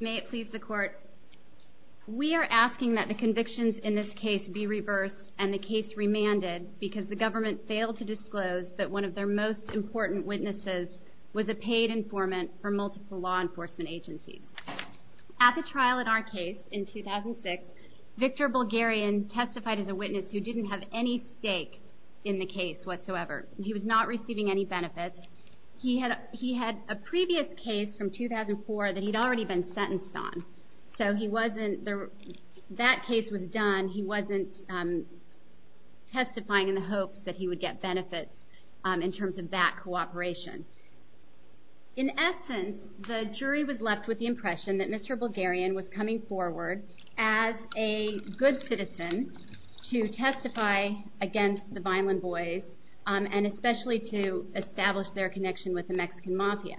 May it please the court we are asking that the convictions in this case be reversed and the case remanded because the government failed to disclose that one of their most important witnesses was a paid informant for multiple law enforcement agencies at the trial in our case in 2006 Victor Bulgarian testified as a witness who didn't have any stake in the case whatsoever he was not receiving any benefits he had he had a previous case from 2004 that he'd already been sentenced on so he wasn't there that case was done he wasn't testifying in the hopes that he would get benefits in terms of that cooperation in essence the jury was left with the impression that mr. Bulgarian was coming forward as a good citizen to testify against the violent boys and especially to establish their connection with the Mexican mafia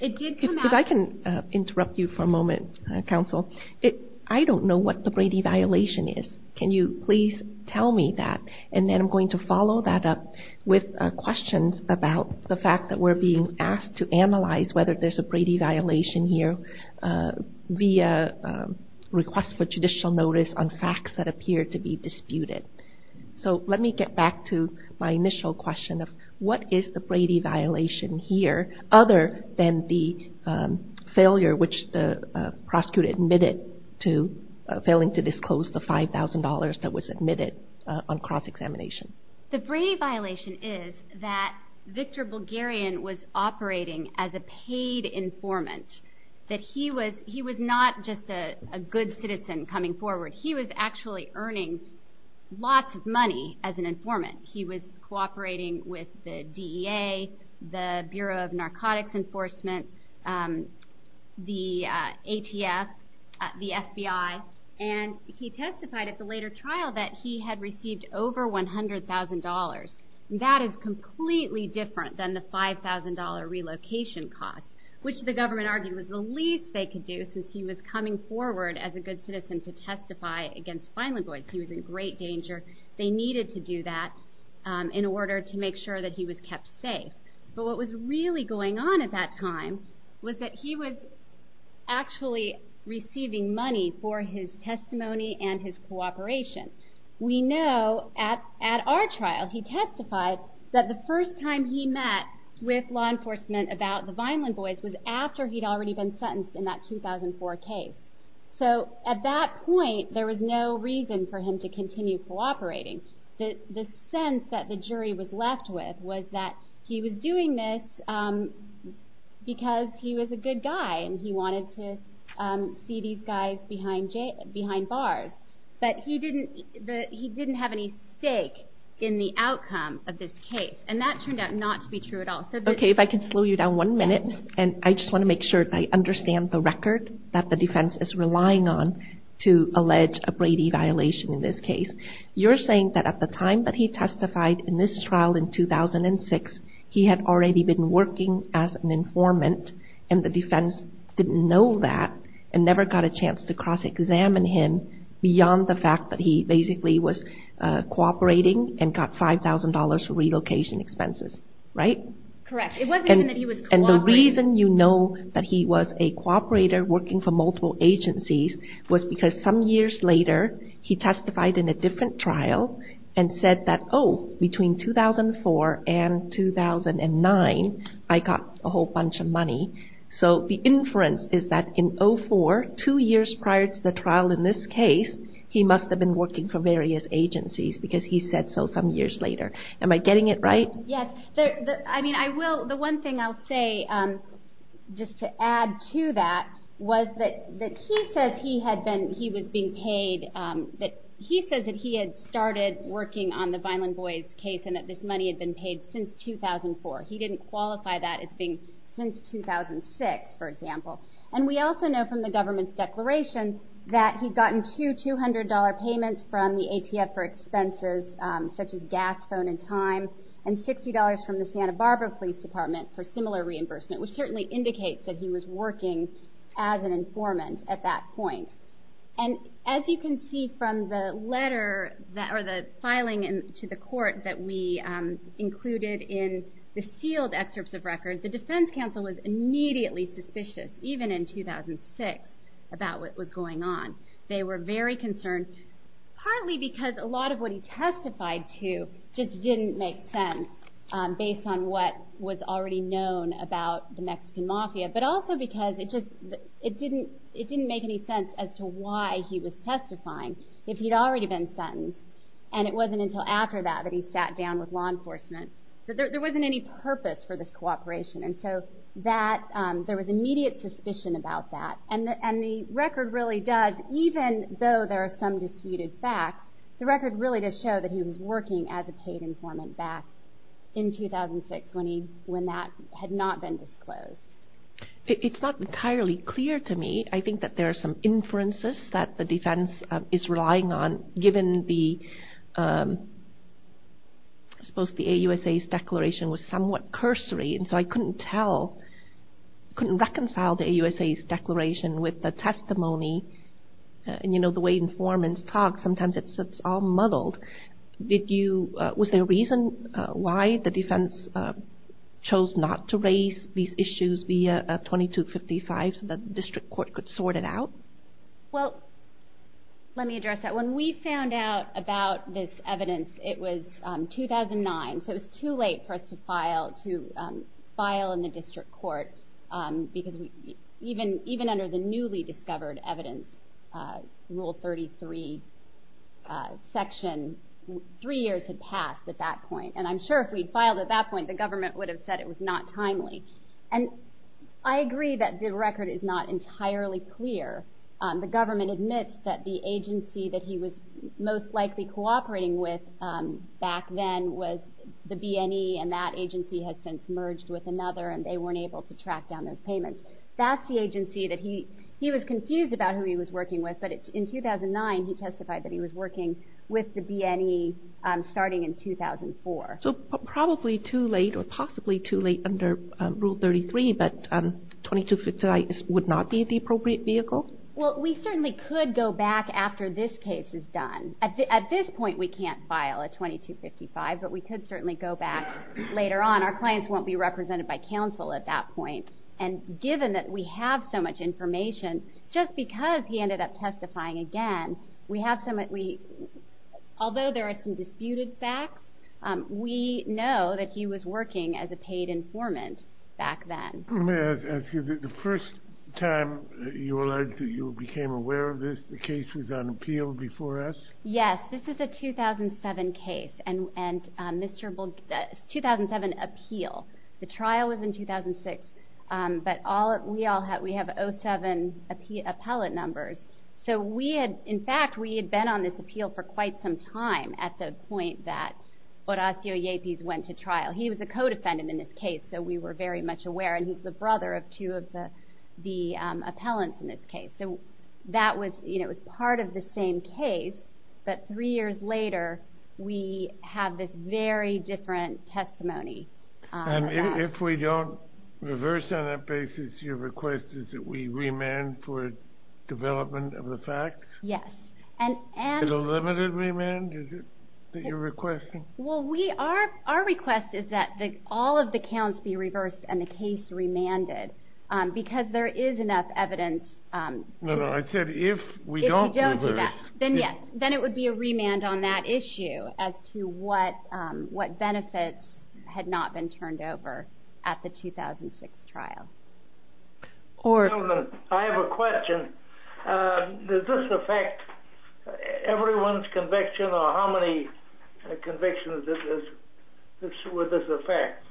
it did come out I can interrupt you for a moment counsel it I don't know what the Brady violation is can you please tell me that and then I'm going to follow that up with questions about the fact that we're being asked to analyze whether there's a Brady violation here via request for judicial notice on facts that appear to be disputed so let me get back to my initial question of what is the Brady violation here other than the failure which the prosecutor admitted to failing to disclose the $5,000 that was admitted on cross-examination the Brady violation is that Victor Bulgarian was operating as a paid informant that he was he was not just a good citizen coming forward he was actually earning lots of money as an informant he was cooperating with the DEA the Bureau of Narcotics Enforcement the ATF the FBI and he testified at the later trial that he had received over $100,000 that is completely different than the $5,000 relocation cost which the government argued was the least they could do since he was coming forward as a good citizen to testify against finally boys he was in great danger they needed to do that in order to make sure that he was kept safe but what was really going on at that time was that he was actually receiving money for his testimony and his cooperation we know at at our trial he testified that the first time he met with law enforcement about the Vineland boys was after he'd already been sentenced in that 2004 case so at that point there was no reason for him to continue cooperating the sense that the jury was left with was that he was doing this because he was a good guy and he wanted to see these guys behind bars but he didn't he didn't have any stake in the outcome of this case and that turned out not to be true at all okay if I can slow you down one minute and I just want to make sure I understand the record that the defense is relying on to allege a Brady violation in this case you're saying that at the time that he testified in this trial in 2006 he had already been working as an informant and the defense didn't know that and never got a chance to cross-examine him beyond the fact that he basically was cooperating and got $5,000 for relocation expenses right and the reason you know that he was a cooperator working for multiple agencies was because some years later he testified in a different trial and said that oh between 2004 and 2009 I got a whole bunch of money so the inference is that in 04 two years prior to the trial in this case he must have been working for various agencies because he said so some years later am I getting it right yes I mean I will the one thing I'll say just to add to that was that that he said he had been he was being paid that he says that he had started working on the Vineland boys case and that this money had been paid since 2004 he didn't qualify that as being since 2006 for example and we also know from the government's declaration that he's gotten to $200 payments from the ATF for time and $60 from the Santa Barbara Police Department for similar reimbursement which certainly indicates that he was working as an informant at that point and as you can see from the letter that or the filing and to the court that we included in the sealed excerpts of records the defense counsel was immediately suspicious even in 2006 about what was going on they were very concerned partly because a lot of what he testified to just didn't make sense based on what was already known about the Mexican Mafia but also because it just it didn't it didn't make any sense as to why he was testifying if he'd already been sentenced and it wasn't until after that that he sat down with law enforcement there wasn't any purpose for this cooperation and so that there was immediate suspicion about that and and the record really does even though there are some disputed facts the record really does show that he was working as a paid informant back in 2006 when he when that had not been disclosed. It's not entirely clear to me I think that there are some inferences that the defense is relying on given the suppose the AUSA's declaration was somewhat cursory and so I couldn't tell couldn't reconcile the AUSA's testimony and you know the way informants talk sometimes it's it's all muddled did you was there a reason why the defense chose not to raise these issues via 2255 so that the district court could sort it out? Well let me address that when we found out about this evidence it was 2009 so it's too late for us to file to file in the district court because we even even the newly discovered evidence rule 33 section three years had passed at that point and I'm sure if we'd filed at that point the government would have said it was not timely and I agree that the record is not entirely clear the government admits that the agency that he was most likely cooperating with back then was the BNE and that agency has since merged with another and they he was confused about who he was working with but it's in 2009 he testified that he was working with the BNE starting in 2004. So probably too late or possibly too late under rule 33 but 2255 would not be the appropriate vehicle? Well we certainly could go back after this case is done at this point we can't file at 2255 but we could certainly go back later on our clients won't be represented by counsel at that point and given that we have so much information just because he ended up testifying again we have some that we although there are some disputed facts we know that he was working as a paid informant back then. The first time you realized that you became aware of this the case was on appeal before us? Yes this is a 2007 case and and mr. 2007 appeal the trial was in 2006 but all we all have we have 07 appellate numbers so we had in fact we had been on this appeal for quite some time at the point that Horacio Llepiz went to trial he was a co-defendant in this case so we were very much aware and he's the brother of two of the the appellants in this case so that was you know it's part of the same case but three years later we have this very different testimony. And if we don't reverse on that basis your request is that we remand for development of the facts? Yes. And and a limited remand is it that you're requesting? Well we are our request is that the all of the counts be reversed and the case remanded because there is enough evidence. No I said if we don't do that then yes then it would be a remand on that issue as to what what benefits had not been turned over at the 2006 trial. I have a question does this affect everyone's conviction or how many convictions this is this would this affect?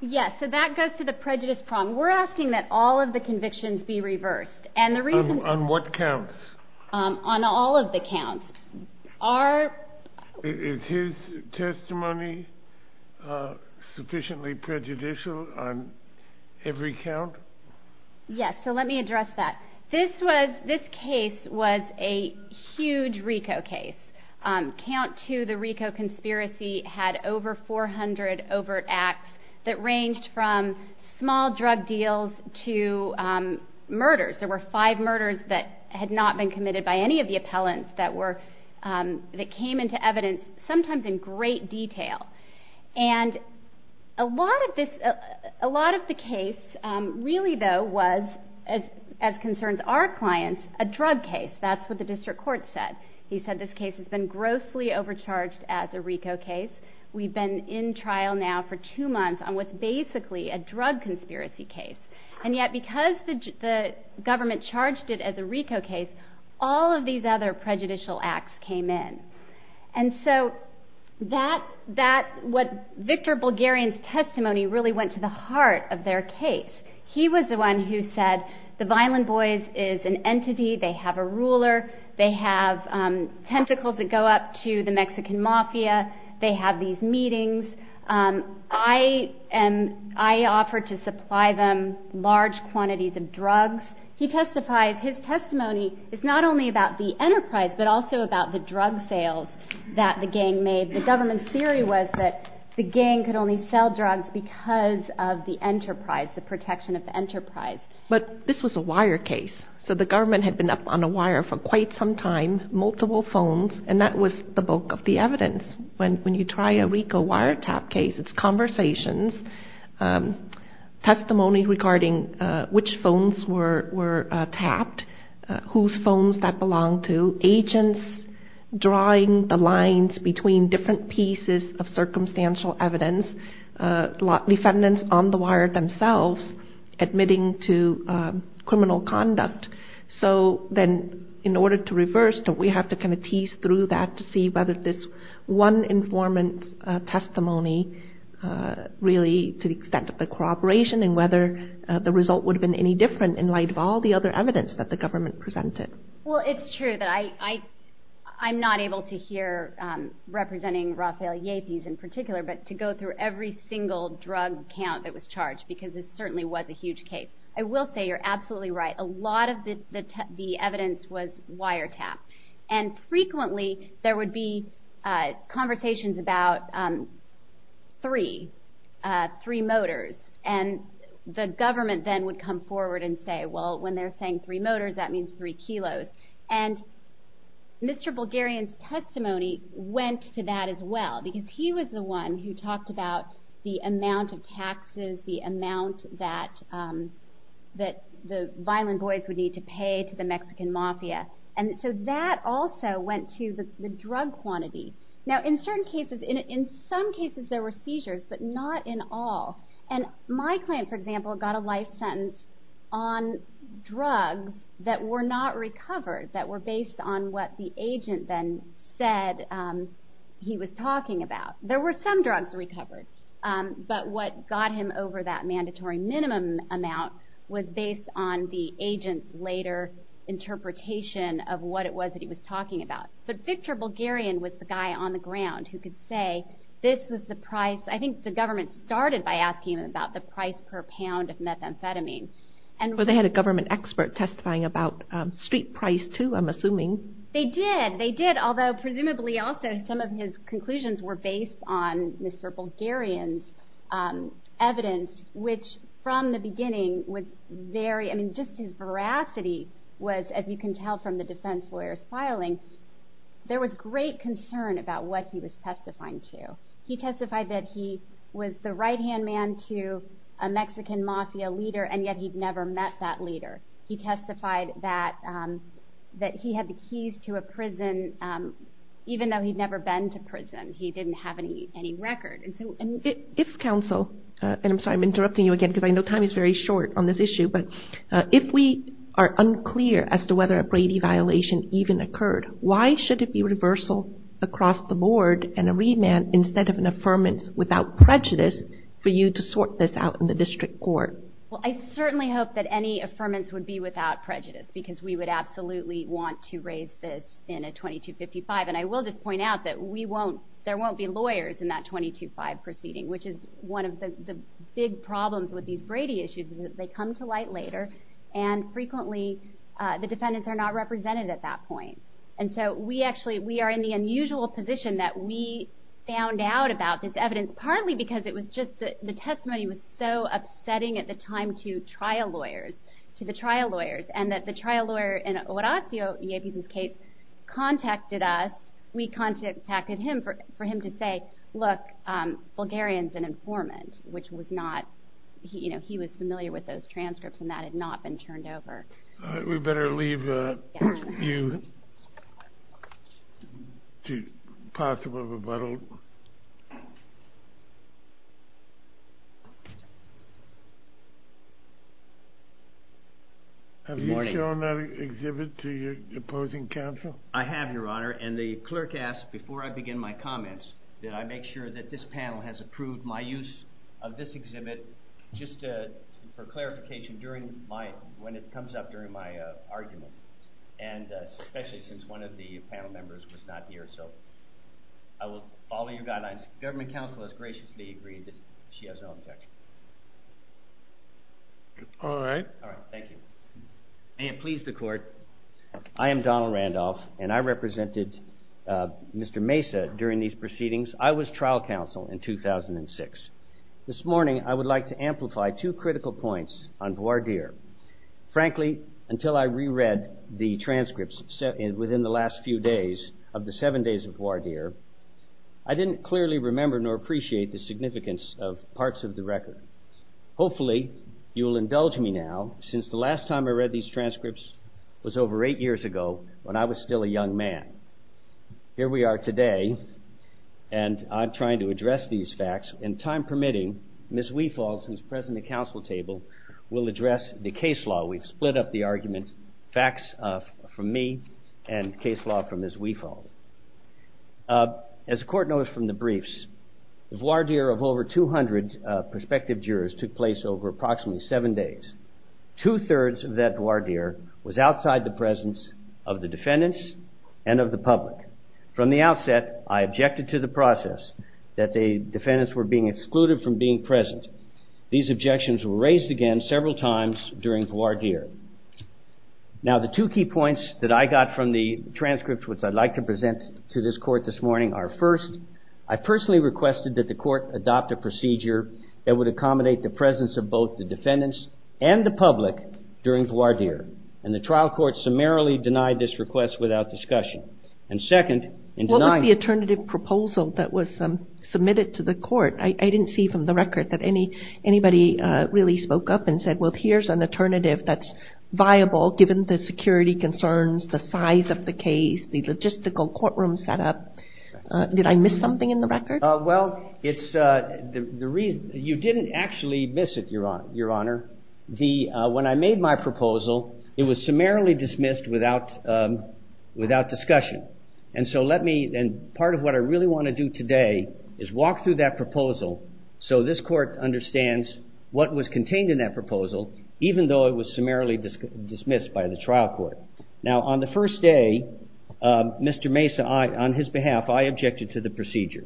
Yes so that goes to the prejudice problem we're asking that all of the convictions be reversed and the Is his testimony sufficiently prejudicial on every count? Yes so let me address that this was this case was a huge RICO case. Count two the RICO conspiracy had over 400 overt acts that ranged from small drug deals to murders there were five murders that had not been committed by any of the appellants that were that came into evidence sometimes in great detail and a lot of this a lot of the case really though was as as concerns our clients a drug case that's what the district court said he said this case has been grossly overcharged as a RICO case we've been in trial now for two months on what's basically a government charged it as a RICO case all of these other prejudicial acts came in and so that that what Victor Bulgarian's testimony really went to the heart of their case he was the one who said the violent boys is an entity they have a ruler they have tentacles that go up to the Mexican mafia they have these drugs he testified his testimony is not only about the enterprise but also about the drug sales that the gang made the government theory was that the gang could only sell drugs because of the enterprise the protection of the enterprise but this was a wire case so the government had been up on a wire for quite some time multiple phones and that was the bulk of the evidence when when you try a RICO wiretap case it's conversations testimony regarding which phones were were tapped whose phones that belong to agents drawing the lines between different pieces of circumstantial evidence lot defendants on the wire themselves admitting to criminal conduct so then in order to reverse that we have to kind of tease through that to see whether this one informant testimony really to the extent of the corroboration and whether the result would have been any different in light of all the other evidence that the government presented well it's true that I I I'm not able to hear representing Rafael Yates in particular but to go through every single drug count that was charged because it certainly was a huge case I will say you're absolutely right a lot of the evidence was wiretap and frequently there would be conversations about three three motors and the government then would come forward and say well when they're saying three motors that means three kilos and Mr. Bulgarian's testimony went to that as well because he was the one who talked about the amount of taxes the amount that that the violent boys would need to pay to the Mexican mafia and so that also went to the drug quantity now in certain cases in it in some cases there were seizures but not in all and my client for example got a life sentence on drugs that were not recovered that were based on what the agent then said he was talking about there were some drugs recovered but what got him over that mandatory minimum amount was based on the agent later interpretation of what it was that he was talking about but Victor Bulgarian was the guy on the ground who could say this was the price I think the government started by asking about the price per pound of methamphetamine and well they had a government expert testifying about street price too I'm assuming they did they did although presumably also some of his conclusions were based on Mr. Bulgarian's evidence which from the beginning was very I mean just his veracity was as you can tell from the defense lawyers filing there was great concern about what he was testifying to he testified that he was the right-hand man to a Mexican mafia leader and yet he'd never met that leader he testified that that he had the keys to a prison even though he'd never been to prison he didn't have any any record and so and if counsel and I'm sorry I'm interrupting you again because I know time is very short on this issue but if we are unclear as to whether a Brady violation even occurred why should it be reversal across the board and a remand instead of an affirmance without prejudice for you to sort this out in the district court well I certainly hope that any affirmance would be without prejudice because we would absolutely want to raise this in a 2255 and I will just point out that we won't there won't be lawyers in that 225 proceeding which is one of the big problems with these and frequently the defendants are not represented at that point and so we actually we are in the unusual position that we found out about this evidence partly because it was just the testimony was so upsetting at the time to trial lawyers to the trial lawyers and that the trial lawyer in Horacio Yeviz's case contacted us we contacted him for him to say look Bulgarians an informant which was not he you know he was familiar with those transcripts and that had not been turned over we better leave you to possible rebuttal have you shown that exhibit to your opposing counsel I have your honor and the clerk asked before I begin my comments did I make sure that this panel has approved my use of this exhibit just for clarification during my when it comes up during my arguments and especially since one of the panel members was not here so I will follow your guidelines government counsel has graciously agreed that she has no objection all right all right thank you and please the court I am Donald Randolph and I represented mr. Mesa during these proceedings I was trial counsel in 2006 this morning I would like to amplify two critical points on voir dire frankly until I reread the transcripts said within the last few days of the seven days of voir dire I didn't clearly remember nor appreciate the significance of parts of the record hopefully you will indulge me now since the last time I read these transcripts was over eight years ago when I was still a young man here we are today and I'm trying to address these facts in time permitting miss we fault who's present the council table will address the case law we've split up the arguments facts from me and case law from his we fault as a court notice from the briefs voir dire of over 200 prospective jurors took place over approximately seven days two-thirds of that voir dire was outside the presence of the defendants and of the public from the outset I objected to the process that the defendants were being excluded from being present these objections were raised again several times during voir dire now the two key points that I got from the transcripts which I'd like to present to this court this morning are first I personally requested that the court adopt a procedure that would accommodate the defendants and the public during voir dire and the trial court summarily denied this request without discussion and second in the alternative proposal that was submitted to the court I didn't see from the record that any anybody really spoke up and said well here's an alternative that's viable given the security concerns the size of the case the logistical courtroom set up did I miss something in the record well it's the reason you didn't actually miss it your honor the when I made my proposal it was summarily dismissed without without discussion and so let me then part of what I really want to do today is walk through that proposal so this court understands what was contained in that proposal even though it was summarily dismissed by the trial court now on the first day mr. Mesa I on his behalf I objected to the procedure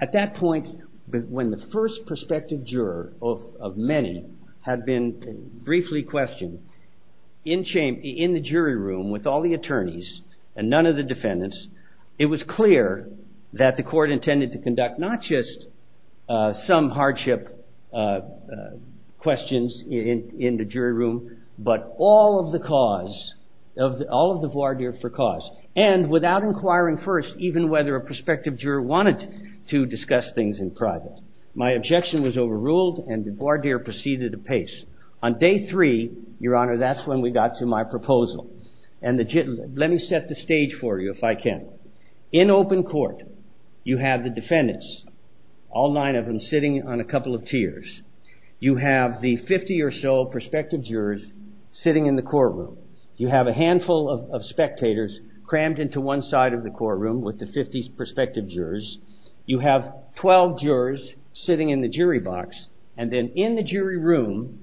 at that point but when the first prospective juror of many had been briefly questioned in shame in the jury room with all the attorneys and none of the defendants it was clear that the court intended to conduct not just some hardship questions in the jury room but all of the cause of all of the voir dire for cause and without inquiring first even whether a prospective juror wanted to discuss things in private my objection was overruled and the voir dire proceeded apace on day three your honor that's when we got to my proposal and the gentleman let me set the stage for you if I can in open court you have the defendants all nine of them sitting on a couple of tiers you have the 50 or so prospective jurors sitting in the courtroom you have a handful of spectators crammed into one side of the courtroom with the 50s prospective jurors you have 12 jurors sitting in the jury box and then in the jury room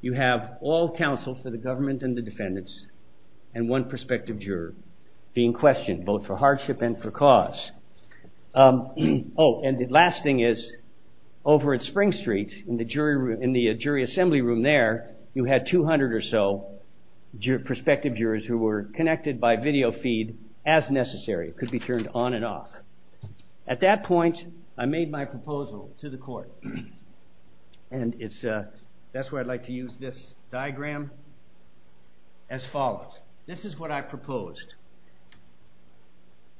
you have all counsel for the government and the defendants and one prospective juror being questioned both for hardship and for cause oh and the last thing is over at Spring Street in the jury room in the jury assembly room there you had 200 or so prospective jurors who were connected by video feed as necessary could be turned on and off at that point I made my proposal to the court and it's a that's where I'd like to use this diagram as follows this is what I proposed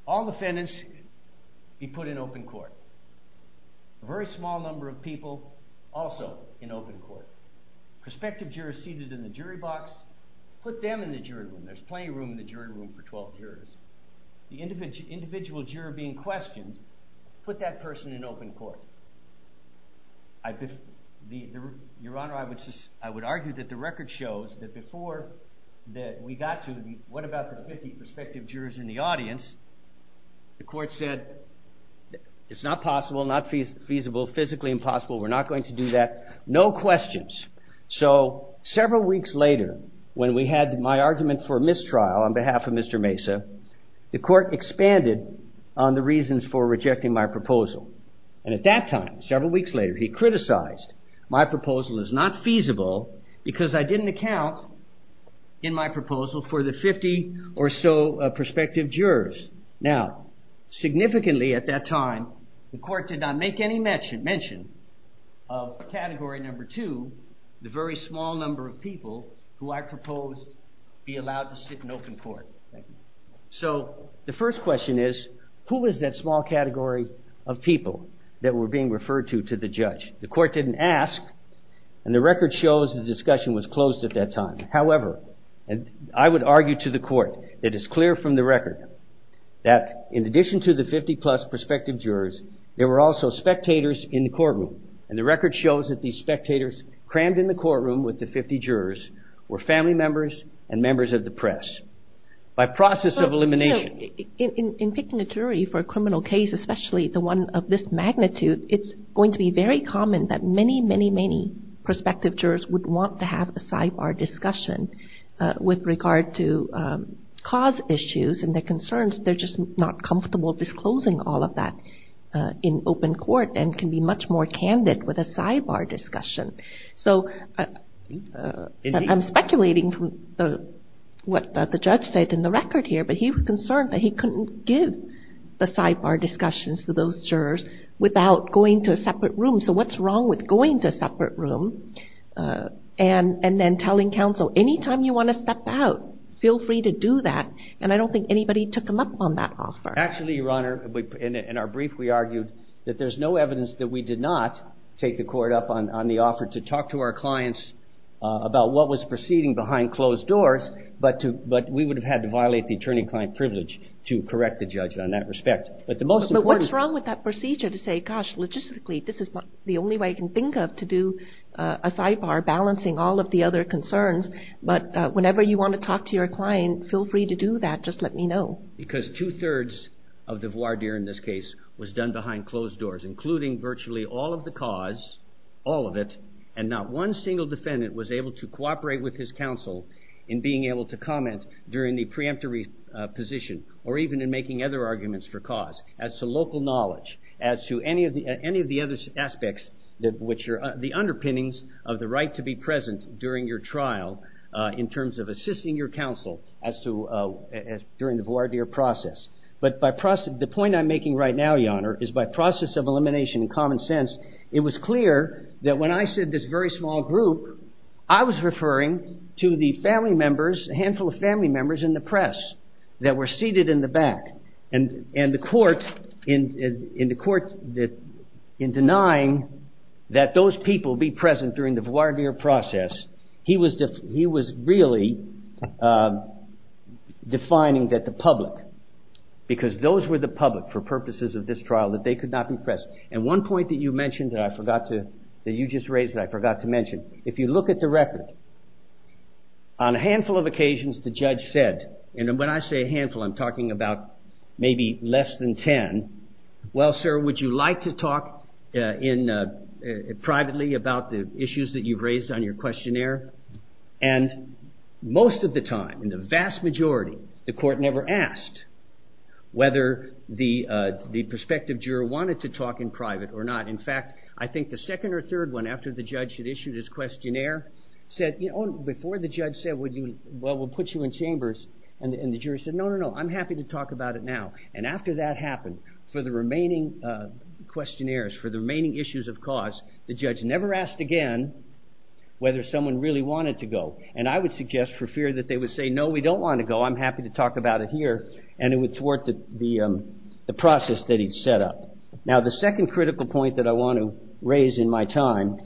all defendants be put in open court a very small number of people also in open court prospective jurors seated in the jury box put them in the jury room there's plenty of room in the jury room for 12 jurors the individual juror being questioned put that person in open court. Your Honor I would argue that the record shows that before that we got to the what about the 50 prospective jurors in the audience the court said it's not possible not feasible physically impossible we're not going to do that no questions so several weeks later when we had my argument for mistrial on behalf of Mr. Mesa the court expanded on the reasons for rejecting my proposal and at that time several weeks later he criticized my proposal is not feasible because I didn't account in my proposal for the 50 or so prospective jurors now significantly at that time the court did not make any mention of category number two the very small number of people who I proposed be allowed to sit in open court so the first question is who is that small category of people that were being referred to to the judge the court didn't ask and the record shows the discussion was closed at that time however and I would argue to the court it is clear from the record that in addition to the 50 plus prospective jurors there were also spectators in the courtroom and the record shows that the spectators crammed in the courtroom with the 50 jurors were family members and members of the press by process of elimination in picking a jury for a criminal case especially the one of this magnitude it's going to be very common that many many many prospective jurors would want to have a sidebar discussion with regard to cause issues and their concerns they're just not comfortable disclosing all of that in open court and can be much more candid with a sidebar discussion so I'm speculating from the what the judge said in the record here but he was concerned that he couldn't give the sidebar discussions to those jurors without going to a separate room so what's wrong with going to a separate room and and then telling counsel anytime you want to step out feel free to do that and I don't think anybody took him up on that offer actually your honor in our brief we argued that there's no evidence that we did not take the court up on on the offer to talk to our clients about what was proceeding behind closed doors but to but we would have had to violate the attorney-client privilege to correct the judge on that respect but the most important what's wrong with that procedure to say gosh logistically this is the only way I can think of to do a sidebar balancing all of the other concerns but whenever you want to talk to your client feel free to do that just let me know because two thirds of the voir dire in this case was done behind closed doors including virtually all of the cause all of it and not one single defendant was able to cooperate with his counsel in being able to comment during the preemptory position or even in making other arguments for cause as to local knowledge as to any of the any of the other aspects that which are the underpinnings of the right to be present during your trial in terms of assisting your counsel as to during the voir dire process but by process the point I'm in common sense it was clear that when I said this very small group I was referring to the family members a handful of family members in the press that were seated in the back and and the court in in the court that in denying that those people be present during the voir dire process he was just he was really defining that the public because those were the public for purposes of this trial that they could not be pressed and one point that you mentioned that I forgot to that you just raised I forgot to mention if you look at the record on a handful of occasions the judge said and when I say a handful I'm talking about maybe less than ten well sir would you like to talk in privately about the issues that you've raised on your questionnaire and most of the time in the vast majority the court never asked whether the the prospective juror wanted to talk in private or not in fact I think the second or third one after the judge had issued his questionnaire said you know before the judge said would you well we'll put you in chambers and the jury said no no I'm happy to talk about it now and after that happened for the remaining questionnaires for the remaining issues of cause the judge never asked again whether someone really wanted to go and I would suggest for fear that they would say no we don't want to go I'm happy to talk about it here and it would thwart the process that he'd set up. Now the second critical point that I want to raise in my time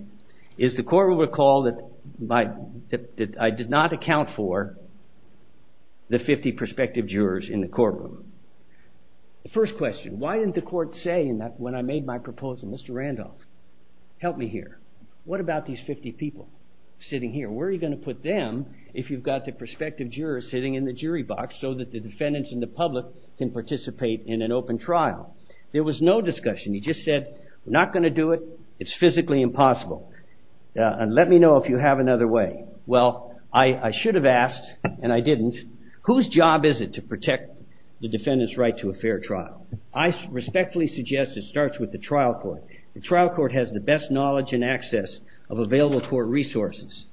is the court will recall that I did not account for the 50 prospective jurors in the courtroom. The first question why didn't the court say in that when I made my proposal Mr. Randolph help me here what about these 50 people sitting here where are you going to put them if you've got the prospective jurors sitting in the jury box so that the defendants and the public can participate in an open trial. There was no discussion he just said we're not going to do it it's physically impossible and let me know if you have another way. Well I should have asked and I didn't whose job is it to protect the defendant's right to a fair trial. I respectfully suggest it starts with the court resources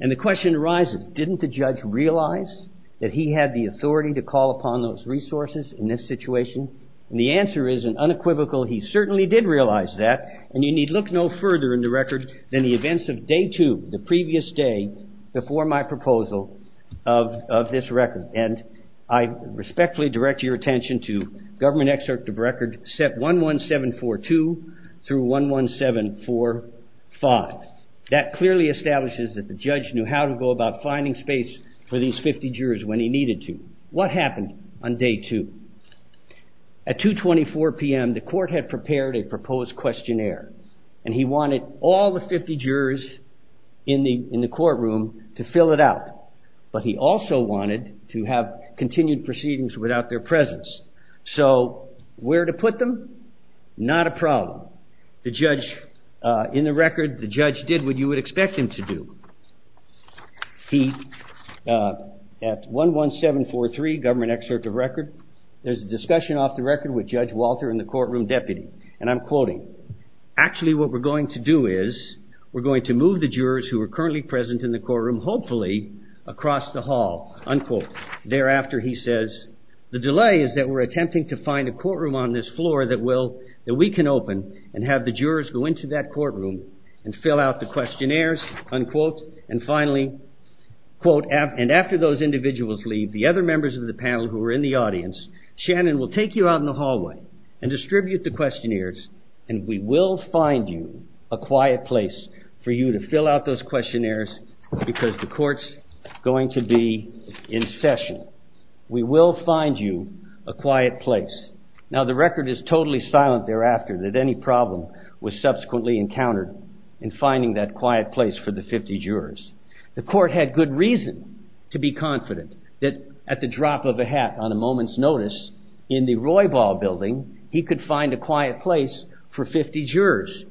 and the question arises didn't the judge realize that he had the authority to call upon those resources in this situation and the answer is an unequivocal he certainly did realize that and you need look no further in the record than the events of day two the previous day before my proposal of this record and I respectfully direct your attention to government excerpt of record set 11742 through 11745 that clearly establishes that the judge knew how to go about finding space for these 50 jurors when he needed to. What happened on day two? At 2.24 p.m. the court had prepared a proposed questionnaire and he wanted all the 50 jurors in the courtroom to fill it out but he also wanted to have continued proceedings without their presence. So where to put them? Not a problem. The judge in the record the judge did what you would expect him to do. He at 11743 government excerpt of record there's a discussion off the record with Judge Walter and the courtroom deputy and I'm quoting actually what we're going to do is we're going to move the jurors who are currently present in the courtroom hopefully across the hall unquote. Thereafter he says the delay is that we're attempting to find a courtroom on this floor that we can open and have the jurors go into that courtroom and fill out the questionnaires unquote and finally quote and after those individuals leave the other members of the panel who are in the audience Shannon will take you out in the hallway and distribute the questionnaires and we will find you a quiet place for you to fill out those questionnaires. The court's going to be in session. We will find you a quiet place. Now the record is totally silent thereafter that any problem was subsequently encountered in finding that quiet place for the 50 jurors. The court had good reason to be confident that at the drop of a hat on a moment's notice in the Roybal building he could find a quiet place for 50 jurors.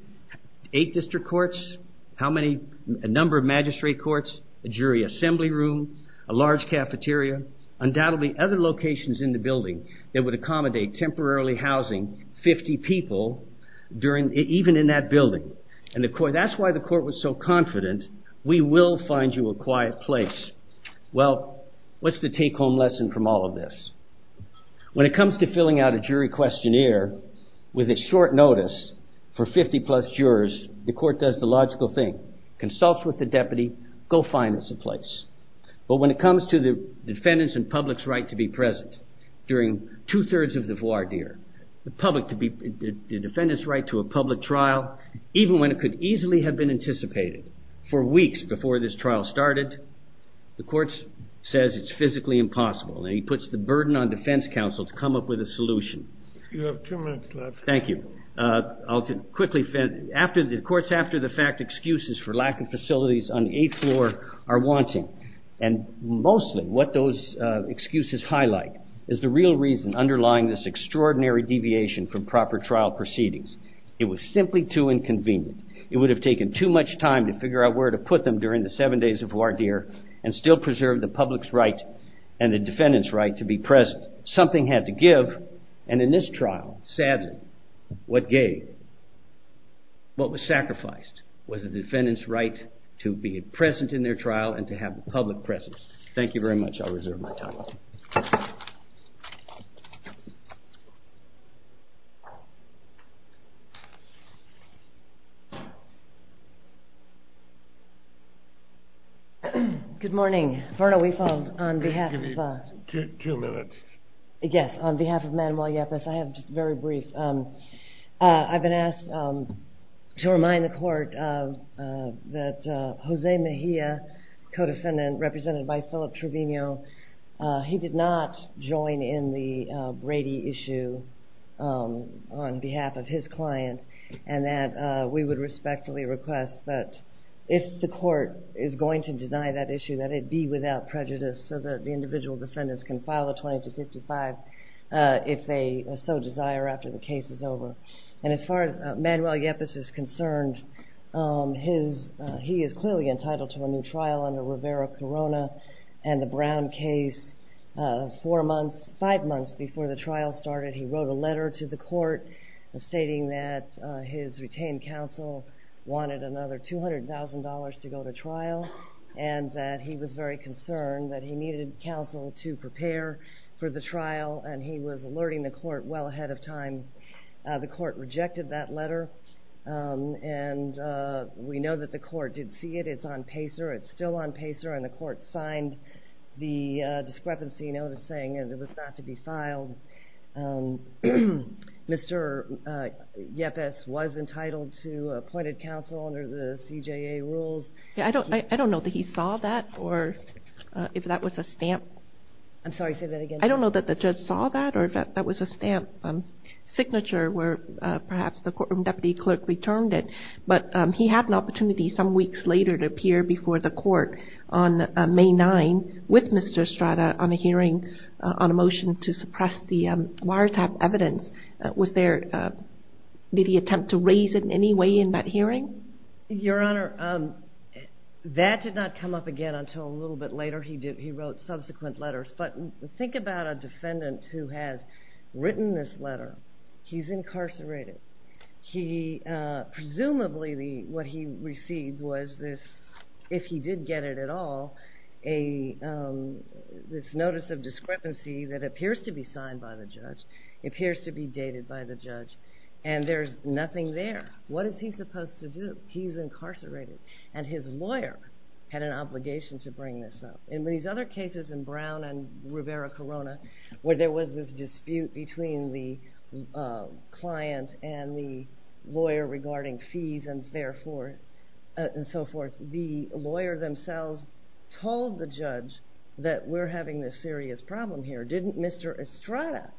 Eight district courts, a number of magistrate courts, a jury assembly room, a large cafeteria, undoubtedly other locations in the building that would accommodate temporarily housing 50 people even in that building and that's why the court was so confident we will find you a quiet place. Well what's the take home lesson from all of this? When it comes to filling out a jury questionnaire with a short notice for 50 plus jurors the court does the logical thing, consults with the deputy, go find us a place. But when it comes to the defendant's and public's right to be present during two-thirds of the voir dire, the defendant's right to a public trial even when it could easily have been anticipated for weeks before this trial started the court says it's physically impossible and he puts the burden on defense counsel to come up with a solution. You have two minutes left. Thank you. Courts after the fact excuses for lack of facilities on the eighth floor are wanting and mostly what those excuses highlight is the real reason underlying this extraordinary deviation from proper trial proceedings. It was simply too inconvenient. It would have taken too much time to figure out where to put them during the seven days of voir dire and still preserve the public's right and the public's right to be present in their trial and to have a public presence. Thank you very much. I'll reserve my time. Good morning. On behalf of the court, I'd like to ask you to give me two minutes. Yes, on behalf of the court, I've been asked to remind the court that Jose Mejia, co-defendant represented by Philip Trevino, he did not join in the Brady issue on behalf of his client and that we would respectfully request that if the court is going to deny that issue that it be without prejudice so that the individual can be heard if they so desire after the case is over. And as far as Manuel Yepes is concerned, he is clearly entitled to a new trial under Rivera Corona and the Brown case. Four months, five months before the trial started, he wrote a letter to the court stating that his retained counsel wanted another $200,000 to go to trial and that he was very concerned that he needed counsel to prepare for the trial and he was alerting the court well ahead of time. The court rejected that letter and we know that the court did see it. It's on PACER. It's still on PACER and the court signed the discrepancy notice saying that it was not to be filed. Mr. Yepes was entitled to appointed counsel under the CJA rules. I don't know that he saw that or if that was a stamp. I'm sorry, say that again. I don't know that the judge saw that or if that was a stamp signature where perhaps the courtroom deputy clerk returned it, but he had an opportunity some weeks later to appear before the court on May 9th with Mr. Estrada on a hearing on a motion to suppress the wiretap evidence. Did he attempt to raise it in any way in that case? No, not again until a little bit later. He wrote subsequent letters, but think about a defendant who has written this letter. He's incarcerated. Presumably what he received was this, if he did get it at all, this notice of discrepancy that appears to be signed by the judge, appears to be dated by the judge, and there's nothing there. What is he supposed to do? He's incarcerated and his lawyer had an obligation to bring this up. In these other cases in Brown and Rivera-Corona, where there was this dispute between the client and the lawyer regarding fees and so forth, the lawyer themselves told the judge that we're having this serious problem here. Didn't Mr. Estrada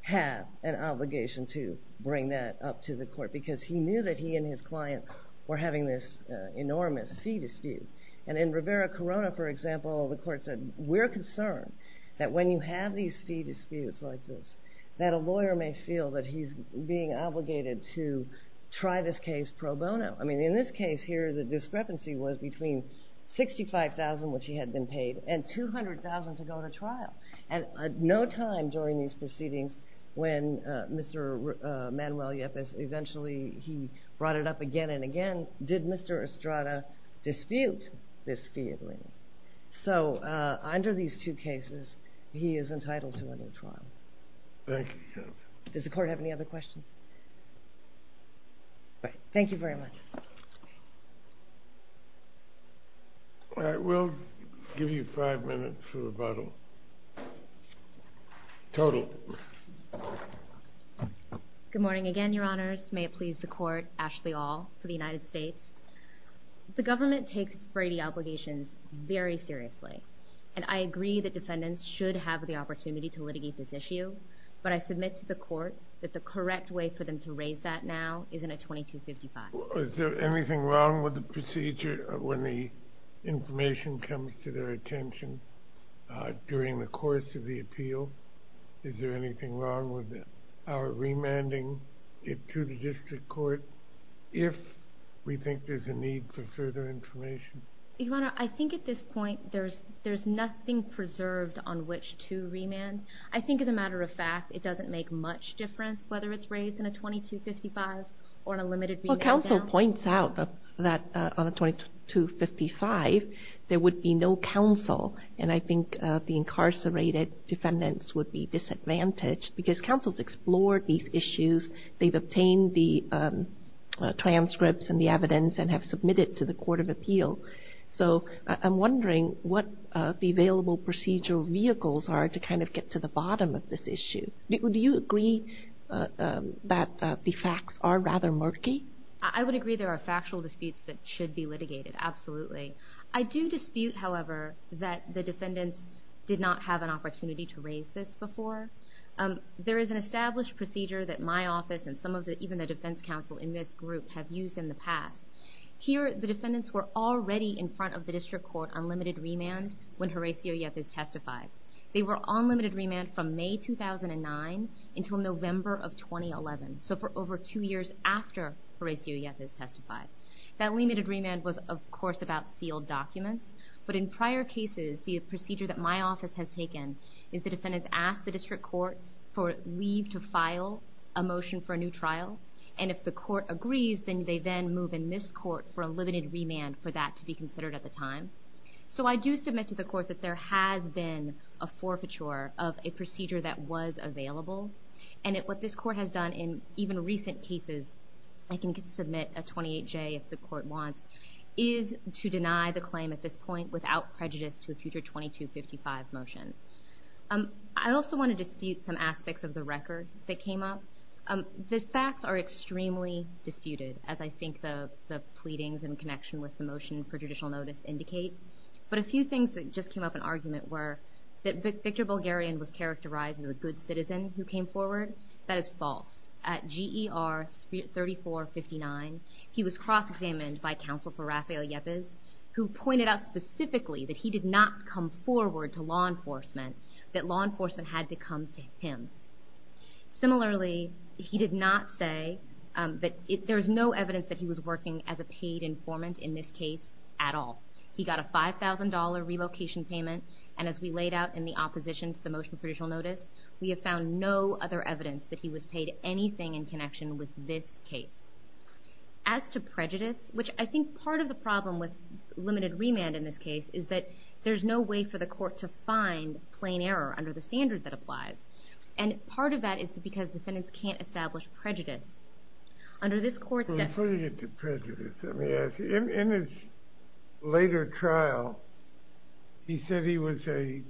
have an obligation to bring that up to the court because he knew that he and his client were having this enormous fee dispute? And in Rivera-Corona, for example, the court said, we're concerned that when you have these fee disputes like this, that a lawyer may feel that he's being obligated to try this case pro bono. I mean, in this case here, the discrepancy was between $65,000, which he had been paid, and $200,000 to go to trial. And no time during these proceedings when Mr. Estrada brought it up again and again, did Mr. Estrada dispute this fee agreement? So under these two cases, he is entitled to a new trial. Thank you. Does the court have any other questions? Thank you very much. All right. We'll give you five minutes for rebuttal. Total. Good morning again, Your Honors. May it please the court, Ashley All for the United States. The government takes Brady obligations very seriously, and I agree that defendants should have the opportunity to litigate this issue, but I submit to the court that the correct way for them to raise that now is in a 2255. Is there anything wrong with the procedure when the information comes to their attention during the course of the appeal? Is there anything wrong with our remanding it to the district court if we think there's a need for further information? Your Honor, I think at this point, there's nothing preserved on which to remand. I think as a matter of fact, it doesn't make much difference whether it's raised in a 2255 or in a limited remand. Well, counsel points out that on a 2255, there would be no counsel, and I think the incarcerated defendants would be disadvantaged because counsel's explored these issues. They've obtained the transcripts and the evidence and have submitted to the court of appeal. So I'm wondering what the available procedural vehicles are to kind of get to the bottom of this issue. Do you agree that the facts are rather murky? I would agree there are factual disputes that should be litigated, absolutely. I do dispute, however, that the defendants did not have an opportunity to raise this before. There is an established procedure that my office and even the defense counsel in this group have used in the past. Here, the defendants were already in front of the district court on limited remand when Horacio Yepp is testified. They were on limited remand from May 2009 until November of 2011, so for over two years after Horacio Yepp is testified. That limited remand was, of course, about sealed documents, but in prior cases, the procedure that my office has taken is the defendants ask the district court for leave to file a motion for a new trial, and if the court agrees, then they then move in this court for a limited remand for that to be considered at the time. So I do submit to the court that there has been a forfeiture of a procedure that was available, and what this court has done in even recent cases, I can submit a 28J if the court wants, is to deny the claim at this point without prejudice to a future 2255 motion. I also want to dispute some aspects of the record that came up. The facts are extremely vague, as you will notice indicate, but a few things that just came up in argument were that Victor Bulgarian was characterized as a good citizen who came forward. That is false. At G.E.R. 3459, he was cross-examined by counsel for Rafael Yeppes, who pointed out specifically that he did not come forward to law enforcement, that law enforcement had to come to him. Similarly, he did not say that there is no evidence that he was working as a paid informant in this case at all. He got a $5,000 relocation payment, and as we laid out in the opposition to the motion for judicial notice, we have found no other evidence that he was paid anything in connection with this case. As to prejudice, which I think part of the problem with limited remand in this case is that there is no way for the court to find plain error under the court's definition. In his later trial, he said he was a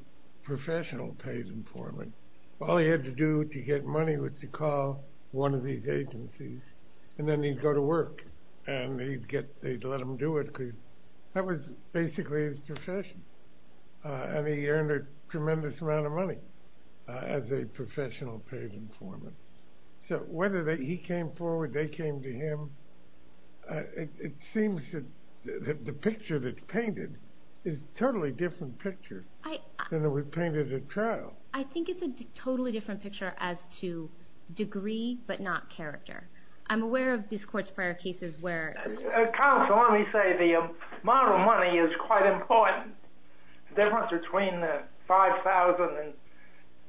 professional paid informant. All he had to do to get money was to call one of these agencies, and then he'd go to work, and they'd let him do it because that was basically his profession, and he earned a tremendous amount of money as a professional paid informant. So whether he came forward, they came to him, it seems that the picture that's painted is a totally different picture than it was painted at trial. I think it's a totally different picture as to degree but not character. I'm aware of these court's prior cases where... Counsel, let me say the amount of money is quite important. The difference between 5,000 and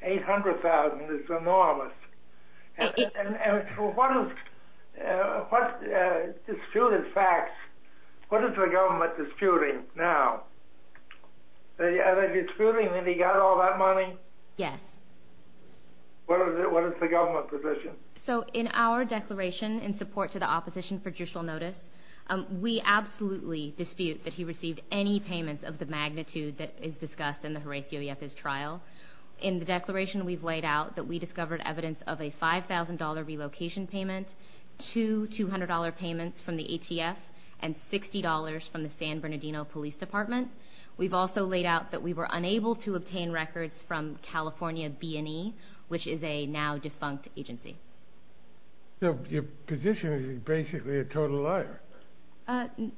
800,000 is enormous. What disputed facts, what is the government disputing now? Are they disputing that he got all that money? Yes. What is the government position? So in our declaration in support to the opposition for judicial notice, we absolutely dispute that he received any payments of the magnitude that is discussed in the Horatio Yepez trial. In the declaration, we've laid out that we discovered evidence of a $5,000 relocation payment, two $200 payments from the ATF, and $60 from the San Bernardino Police Department. We've also laid out that we were unable to obtain records from the ATF. So the government position is basically a total liar.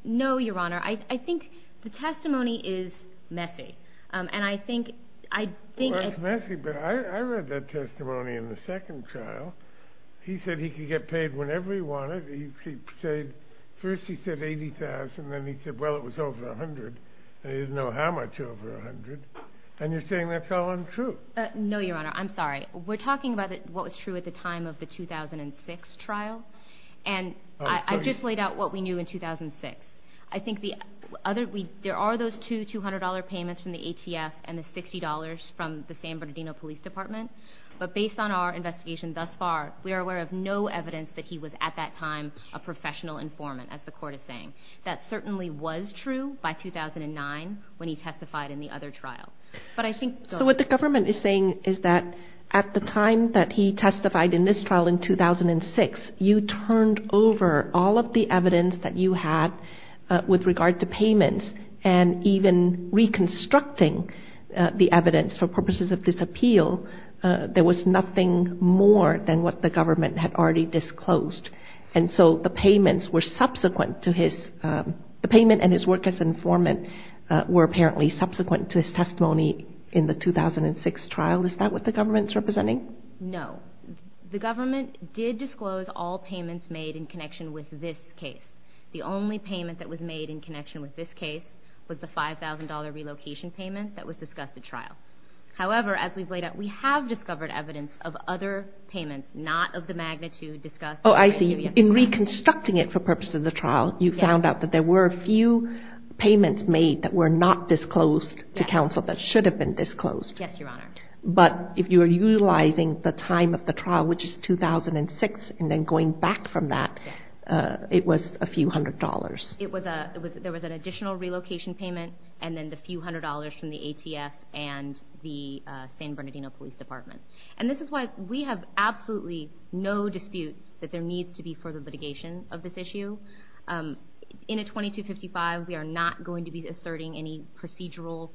No, Your Honor. I think the testimony is messy. Well, it's messy, but I read that testimony in the second trial. He said he could get paid whenever he wanted. First he said $80,000, and then he said, well, it was over $100,000, and he didn't know how much over $100,000. And you're saying that's all untrue. No, Your Honor. I'm sorry. We're talking about what was true at the time of the 2006 trial, and I've just laid out what we knew in 2006. I think there are those two $200 payments from the ATF and the $60 from the San Bernardino Police Department, but based on our investigation thus far, we are aware of no evidence that he was at that time a professional informant, as the court is saying. That certainly was true by 2009 when he testified in the other trial. So what the government is saying is that at the time that he testified in this trial in 2006, you turned over all of the evidence that you had with regard to payments, and even reconstructing the evidence for purposes of this appeal, there was nothing more than what the government had already disclosed. And so the payments and his work as an informant were apparently subsequent to his testimony in the 2006 trial. Is that what the government is representing? No. The government did disclose all payments made in connection with this case. The only payment that was made in connection with this case was the $5,000 relocation payment that was not of the magnitude discussed. Oh, I see. In reconstructing it for purposes of the trial, you found out that there were a few payments made that were not disclosed to counsel that should have been disclosed. Yes, Your Honor. But if you are utilizing the time of the trial, which is 2006, and then going back from that, it was a few hundred dollars. There was an additional relocation payment, and then the few hundred dollars from the ATF and the San Bernardino Police Department. And this is why we have absolutely no dispute that there needs to be further litigation of this issue. In a 2255, we are not going to be asserting any procedural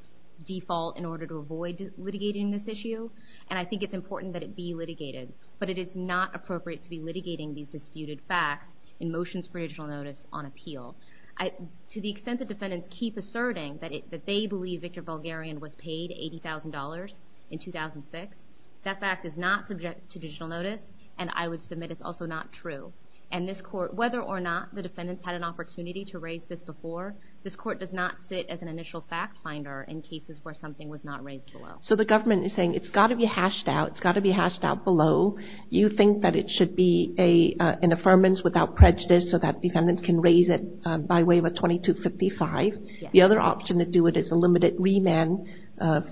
default in order to avoid litigating this issue, and I think it's important that it be litigated. But it is not appropriate to be litigating these disputed facts in motions for additional notice on appeal. To the extent that defendants keep asserting that they believe Victor Bulgarian was paid $80,000 in 2006, that fact is not subject to additional notice, and I would submit it's also not true. And this Court, whether or not the defendants had an opportunity to raise this before, this Court does not sit as an initial fact finder in cases where something was not raised below. So the government is saying it's got to be hashed out, it's got to be hashed out below. You think that it should be an affirmance without prejudice so that defendants can raise it by way of a 2255. The other option to do it is a limited remand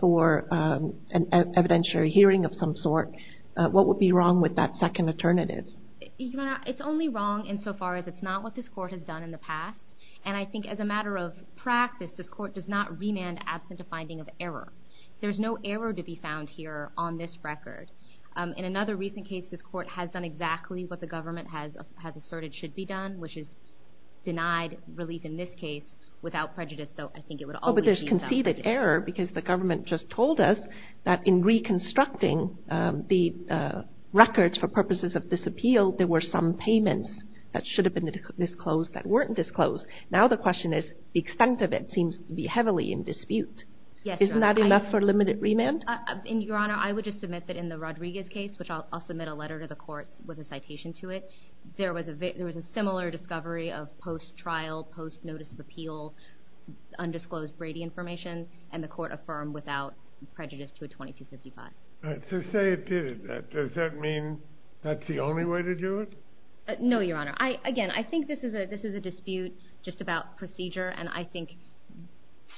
for an evidentiary hearing of some sort. What would be wrong with that second alternative? Your Honor, it's only wrong insofar as it's not what this Court has done in the past. And I think as a matter of practice, this Court does not remand absent a finding of error. There's no error to be found here on this record. In another recent case, this Court has done exactly what the government has asserted should be done, which is denied relief in this case without prejudice, though I think it would always be done. But there's conceded error because the government just told us that in reconstructing the records for purposes of this appeal, there were some payments that should have been disclosed that weren't disclosed. Now the question is, the extent of it seems to be heavily in dispute. Isn't that enough for limited remand? Your Honor, I would just admit that in the Rodriguez case, which I'll submit a letter to the Court with a citation to it, there was a similar discovery of post-trial, post-notice of appeal, undisclosed Brady information, and the Court affirmed without prejudice to a 2255. All right, so say it did it. Does that mean that's the only way to do it? No, Your Honor. Again, I think this is a dispute just about procedure, and I think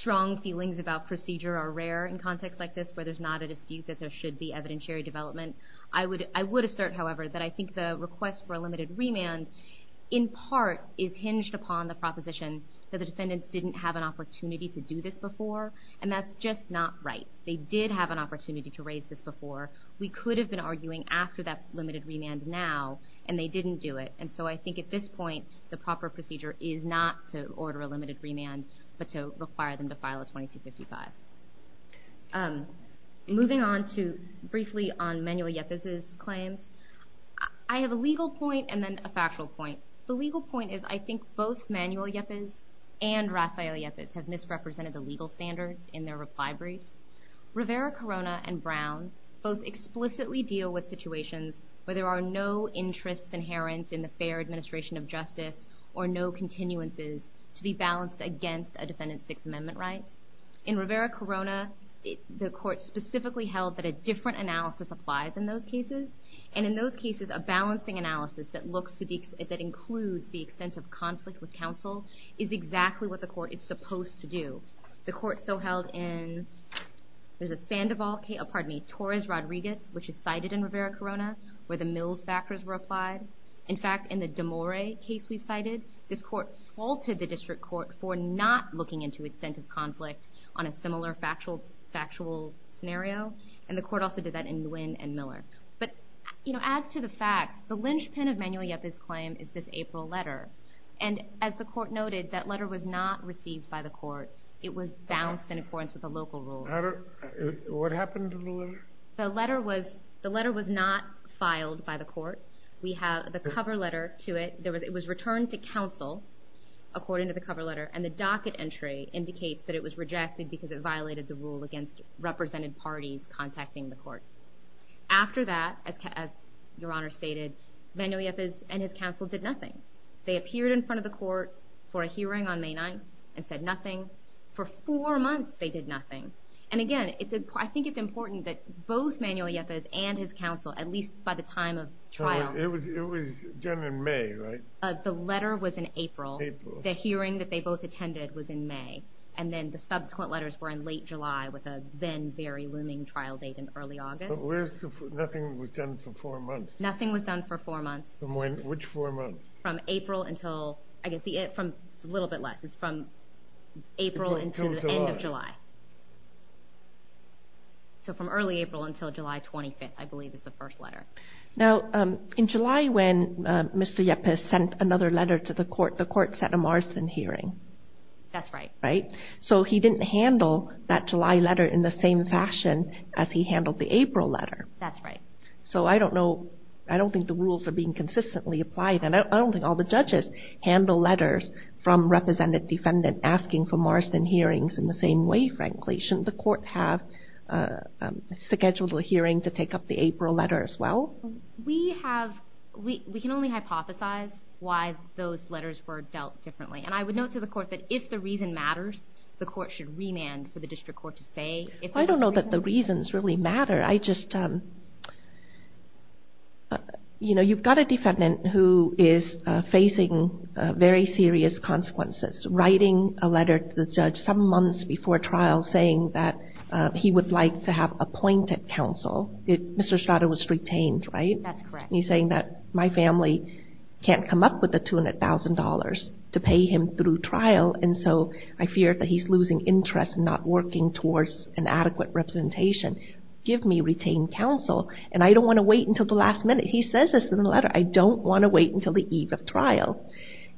strong feelings about procedure are rare in contexts like this where there's not a dispute that there should be evidentiary development. I would assert, however, that I think the request for a limited remand in part is hinged upon the proposition that the defendants didn't have an opportunity to do this before, and that's just not right. They did have an opportunity to raise this before. We could have been arguing after that limited remand now, and they didn't do it, and so I think at this point the proper procedure is not to order a limited remand, but to require them to file a 2255. Moving on to briefly on Manuel Yepes' claims, I have a legal point and then a factual point. The legal point is I think both Manuel Yepes and Rafael Yepes have misrepresented the legal standards in their reply briefs. Rivera-Corona and Brown both explicitly deal with situations where there are no interests inherent in the fair administration of justice or no continuances to be balanced against a defendant's Sixth Amendment rights. In Rivera-Corona, the court specifically held that a different analysis applies in those cases, and in those cases a different analysis is exactly what the court is supposed to do. The court so held in Torres-Rodriguez, which is cited in Rivera-Corona, where the Mills factors were applied. In fact, in the Demore case we cited, this court faulted the district court for not looking into extensive conflict on a similar factual scenario, and the court also did that in Nguyen and Miller. As to the facts, the linchpin of Manuel Yepes' claim is this April letter, and as the court noted, that letter was not received by the court. It was balanced in accordance with the local rules. What happened to the letter? The letter was not filed by the court. We have the cover letter to it. It was returned to counsel, according to the cover letter, and the docket entry indicates that it was rejected because it violated the rule against represented parties contacting the court. After that, as Your Honor stated, Manuel Yepes and his counsel did nothing. They appeared in front of the court for a hearing on May 9th and said nothing. For four months they did nothing, and again, I think it's important that both Manuel Yepes and his counsel, at least by the time of trial... It was done in May, right? The letter was in April. The hearing that they both attended was in May, and then the subsequent letters were in late July, with a then very looming trial date in early August. But nothing was done for four months? Nothing was done for four months. Which four months? From April until... It's a little bit less. It's from April until the end of July. So from early April until July 25th, I believe, is the date that the court sent a Marston hearing. That's right. Right? So he didn't handle that July letter in the same fashion as he handled the April letter. That's right. So I don't know... I don't think the rules are being consistently applied, and I don't think all the judges handle letters from represented defendants asking for Marston hearings in the same way, frankly. Shouldn't the court have scheduled a hearing to take up the April letter as well? We have... We can only hypothesize why those letters were dealt differently. And I would note to the court that if the reason matters, the court should remand for the district court to say... I don't know that the reasons really matter. I just... You know, you've got a defendant who is facing very serious consequences, writing a letter to the judge some months before trial saying that he would like to have appointed counsel. Mr. Strada was retained, right? That's correct. And he's saying that my family can't come up with the $200,000 to pay him through trial, and so I fear that he's losing interest and not working towards an adequate representation. Give me retained counsel, and I don't want to wait until the last minute. He says this in the letter. I don't want to wait until the eve of trial.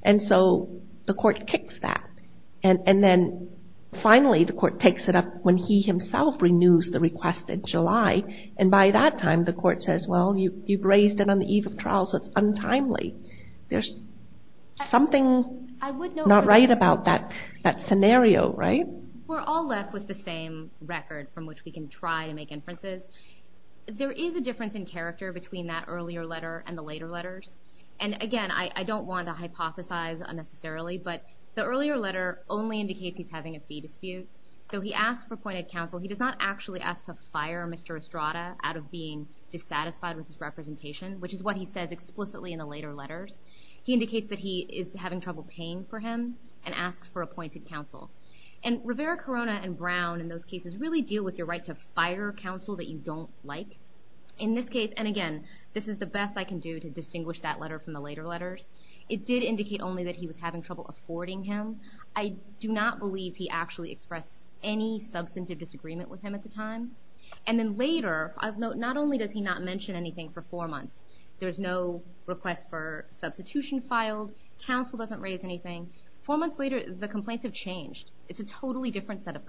And so the court kicks that, and then finally the court takes it up when he himself renews the request in July, and by that time the court says, well, you've raised it on the eve of trial, so it's untimely. There's something not right about that scenario, right? We're all left with the same record from which we can try to make inferences. There is a difference in character between that earlier letter and the later letters. And again, I don't want to hypothesize unnecessarily, but the earlier letter only indicates he's having a fee dispute. Though he asks for appointed counsel, he does not actually ask to fire Mr. Strada out of being dissatisfied with his representation, which is what he says explicitly in the later letters. He indicates that he is having trouble paying for him and asks for appointed counsel. And Rivera-Corona and in this case, and again, this is the best I can do to distinguish that letter from the later letters, it did indicate only that he was having trouble affording him. I do not believe he actually expressed any substantive disagreement with him at the time. And then later, not only does he not mention anything for four months, there's no request for substitution filed, counsel doesn't raise anything, four months later the complaints have changed. It's a totally different set of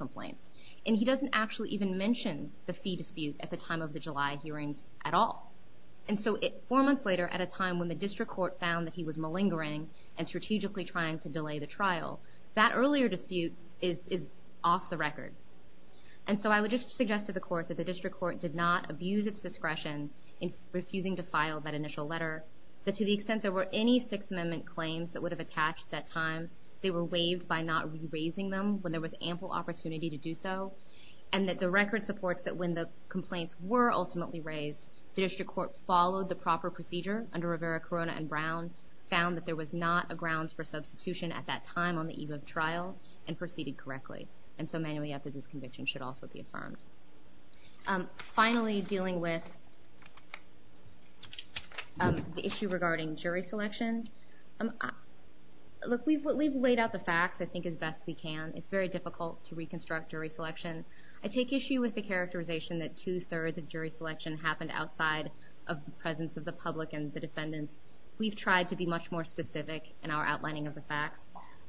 all. And so four months later, at a time when the district court found that he was malingering and strategically trying to delay the trial, that earlier dispute is off the record. And so I would just suggest to the court that the district court did not abuse its discretion in refusing to file that initial letter, that to the extent there were any Sixth Amendment claims that would have attached that time, they were waived by not re-raising them when there was ample opportunity to The district court followed the proper procedure under Rivera-Corona and Brown, found that there was not a grounds for substitution at that time on the eve of trial, and proceeded correctly. And so Manuel Yepez's conviction should also be affirmed. Finally, dealing with the issue regarding jury selection. Look, we've laid out the facts, I think, as best we can. It's very difficult to reconstruct how jury selection happened outside of the presence of the public and the defendants. We've tried to be much more specific in our outlining of the facts.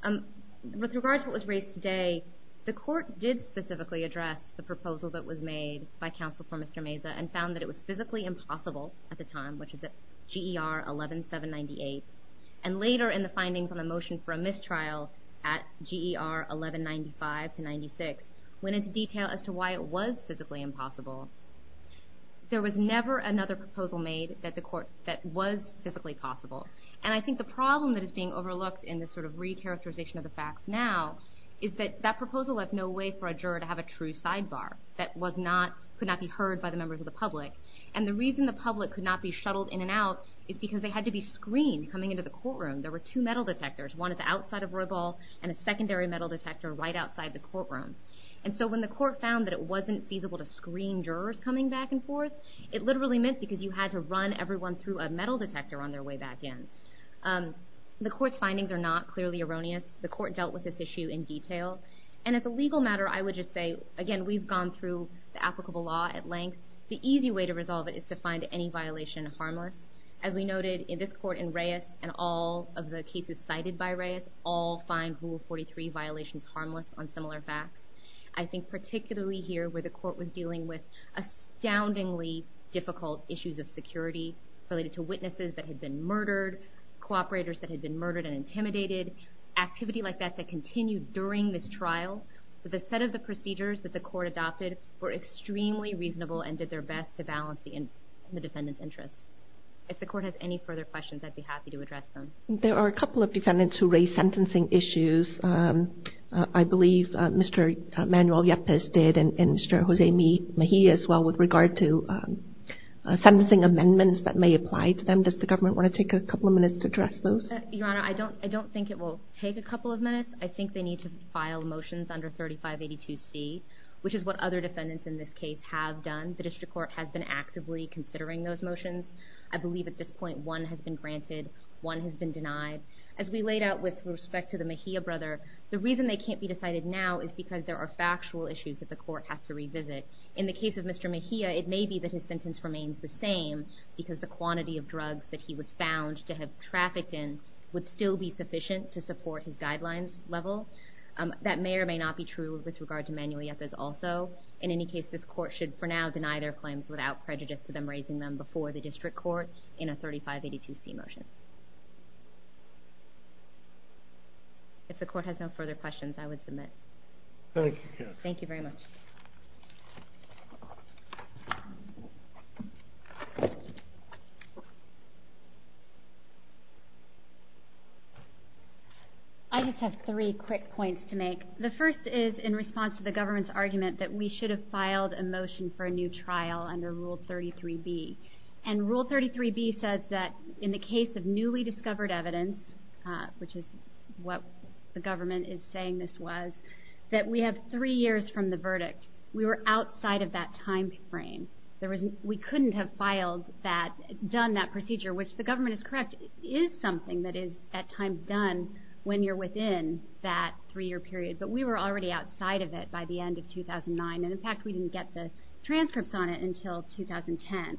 With regards to what was raised today, the court did specifically address the proposal that was made by counsel for Mr. Meza and found that it was physically impossible at the time, which is at GER 11798, and later in the findings on the motion for a mistrial at GER 1195-96 went into detail as to why it was physically impossible. There was never another proposal made that was physically possible. And I think the problem that is being overlooked in this sort of re-characterization of the facts now is that that proposal left no way for a juror to have a true sidebar that could not be heard by the members of the public. And the reason the public could not be shuttled in and out is because they had to be screened coming into the courtroom. There were two metal detectors outside of Roybal and a secondary metal detector right outside the courtroom. And so when the court found that it wasn't feasible to screen jurors coming back and forth, it literally meant because you had to run everyone through a metal detector on their way back in. The court's findings are not clearly erroneous. The court dealt with this issue in detail. And as a legal matter, I would just say, again, we've gone through the applicable law at length. The easy way to resolve it is to find any violation harmless. As we noted in this court in Reyes and all of the cases cited by Reyes, all find Rule 43 violations harmless on similar facts. I think particularly here where the court was dealing with astoundingly difficult issues of security related to witnesses that had been murdered, cooperators that had been murdered and intimidated, activity like that that continued during this trial. So the set of the procedures that the court adopted were extremely reasonable and did their best to balance the defendant's interests. If the court has any further questions, I'd be happy to address them. There are a couple of defendants who raised sentencing issues. I believe Mr. Manuel Yepes did and Mr. Jose Mejia as well with regard to sentencing amendments that may apply to them. Does the government want to take a couple of minutes to address those? Your Honor, I don't think it will take a couple of minutes. I think they need to file motions under 3582C, which is what other defendants in this case have done. The district court has been actively considering those motions. I believe at this point one has been granted, one has been denied. As we laid out with respect to the Mejia brother, the reason they can't be decided now is because there are factual issues that the court has to revisit. In the case of Mr. Mejia, it may be that his sentence remains the same because the quantity of drugs that he was found to have trafficked in would still be sufficient to support his guidelines level. That may or may not be true with regard to Manuel Yepes also. In any case, this court should for now deny their claims without prejudice to them raising them before the district court in a 3582C motion. If the court has no further questions, I would submit. Thank you, counsel. Thank you very much. I just have three quick points to make. The first is in response to the government's argument that we should have filed a motion for a new trial under Rule 33B. Rule 33B says that in the case of newly discovered evidence, which is what the government is saying this was, that we have three years from the verdict. We were outside of that time frame. We couldn't have done that procedure, which the government is correct, is something that is at times done when you're within that three-year period. But we were already outside of it by the end of 2009. In fact, we didn't get the transcripts on it until 2010.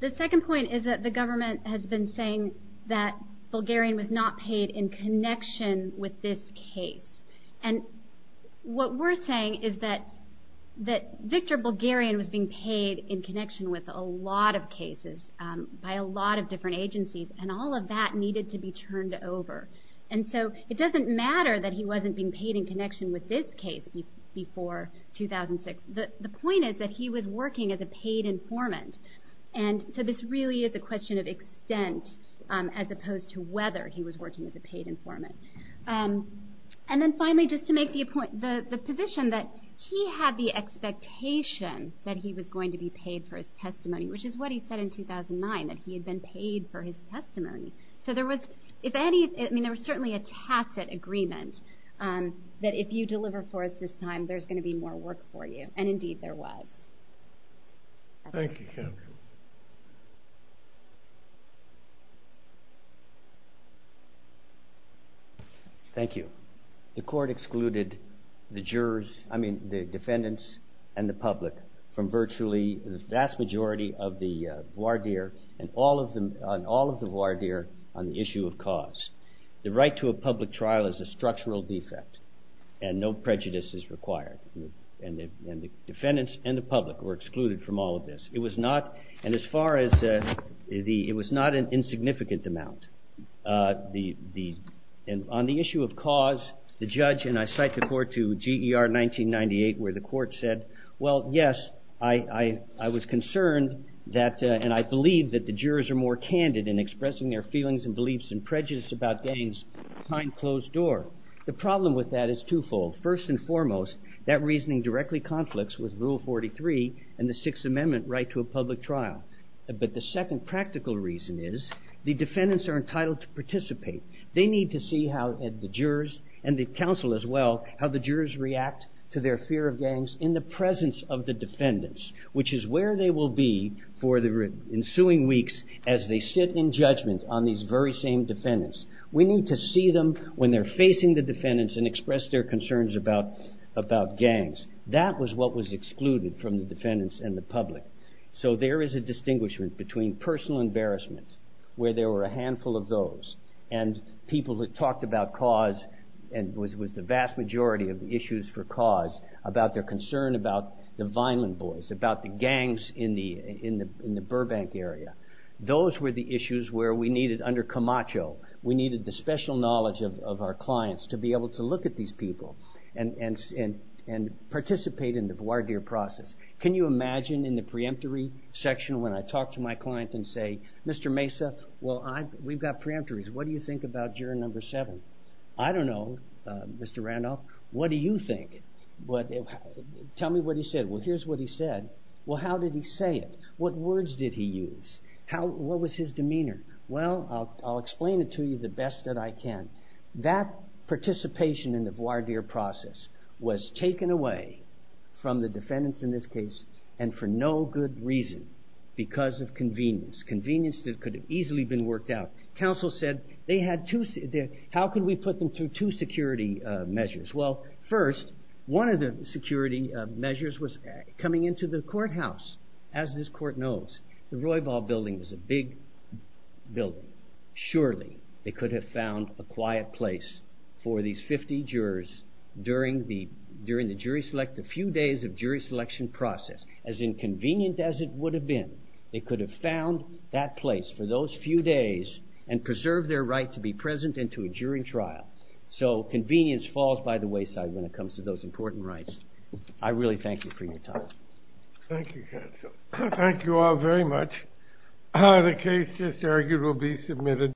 The second point is that the government has been saying that Bulgarian was not paid in connection with this case. What we're saying is that Victor Bulgarian was being paid in connection with a lot of cases by a lot of different agencies, and all of that needed to be turned over. It doesn't matter that he wasn't being paid in connection with this case before 2006. The point is that he was working as a paid informant. This really is a question of extent as opposed to whether he was working as a paid informant. Finally, just to make the point, the position that he had the expectation that he was going to be paid for his testimony, which is what he said in 2009, that he had been paid for his testimony. There was certainly a tacit agreement that if you deliver for us this time, there's going to be more work for you. Indeed, there was. Thank you. The court excluded the jurors, I mean the defendants and the public from virtually the vast majority of the voir dire on the issue of cause. The right to a public trial is a structural defect, and no prejudice is required. The defendants and the public were excluded from all of this. It was not an insignificant amount. On the issue of cause, the judge, and I cite the court to GER 1998 where the court said, well, yes, I was concerned and I believe that the jurors are more candid in expressing their feelings and beliefs and prejudice about getting behind closed door. The problem with that is twofold. First and foremost, that reasoning directly conflicts with Rule 43 and the second practical reason is the defendants are entitled to participate. They need to see how the jurors and the counsel as well, how the jurors react to their fear of gangs in the presence of the defendants, which is where they will be for the ensuing weeks as they sit in judgment on these very same defendants. We need to see them when they're facing the defendants and express their concerns about gangs. That was what was excluded from the defendants and the public. So there is a distinguishment between personal embarrassment, where there were a handful of those, and people that talked about cause and with the vast majority of the issues for cause about their concern about the Vineland Boys, about the gangs in the Burbank area. Those were the issues where we needed, under Camacho, we needed the special knowledge of our clients to be able to look at these people and participate in the voir dire process. Can you imagine in the preemptory section when I talk to my client and say, Mr. Mesa, we've got preemptories. What do you think about juror number seven? I don't know, Mr. Randolph. What do you think? Tell me what he said. Well, here's what he said. Well, how did he say it? What words did he use? What was his demeanor? Well, I'll explain it to you the best that I can. That participation in the voir dire process was taken away from the defendants in this case, and for no good reason, because of convenience. Convenience that could have easily been worked out. Counsel said, how can we put them through two security measures? Well, first, one of the security measures was coming into the courthouse. As this court knows, the Roybal building was a big building. Surely, they could have found a quiet place for these 50 jurors during the jury select, the few days of jury selection process. As inconvenient as it would have been, they could have found that place for those few days and preserved their right to be present and to a jury trial. So, convenience falls by the wayside when it comes to those important rights. I really thank you for your time. Thank you, counsel. Thank you all very much.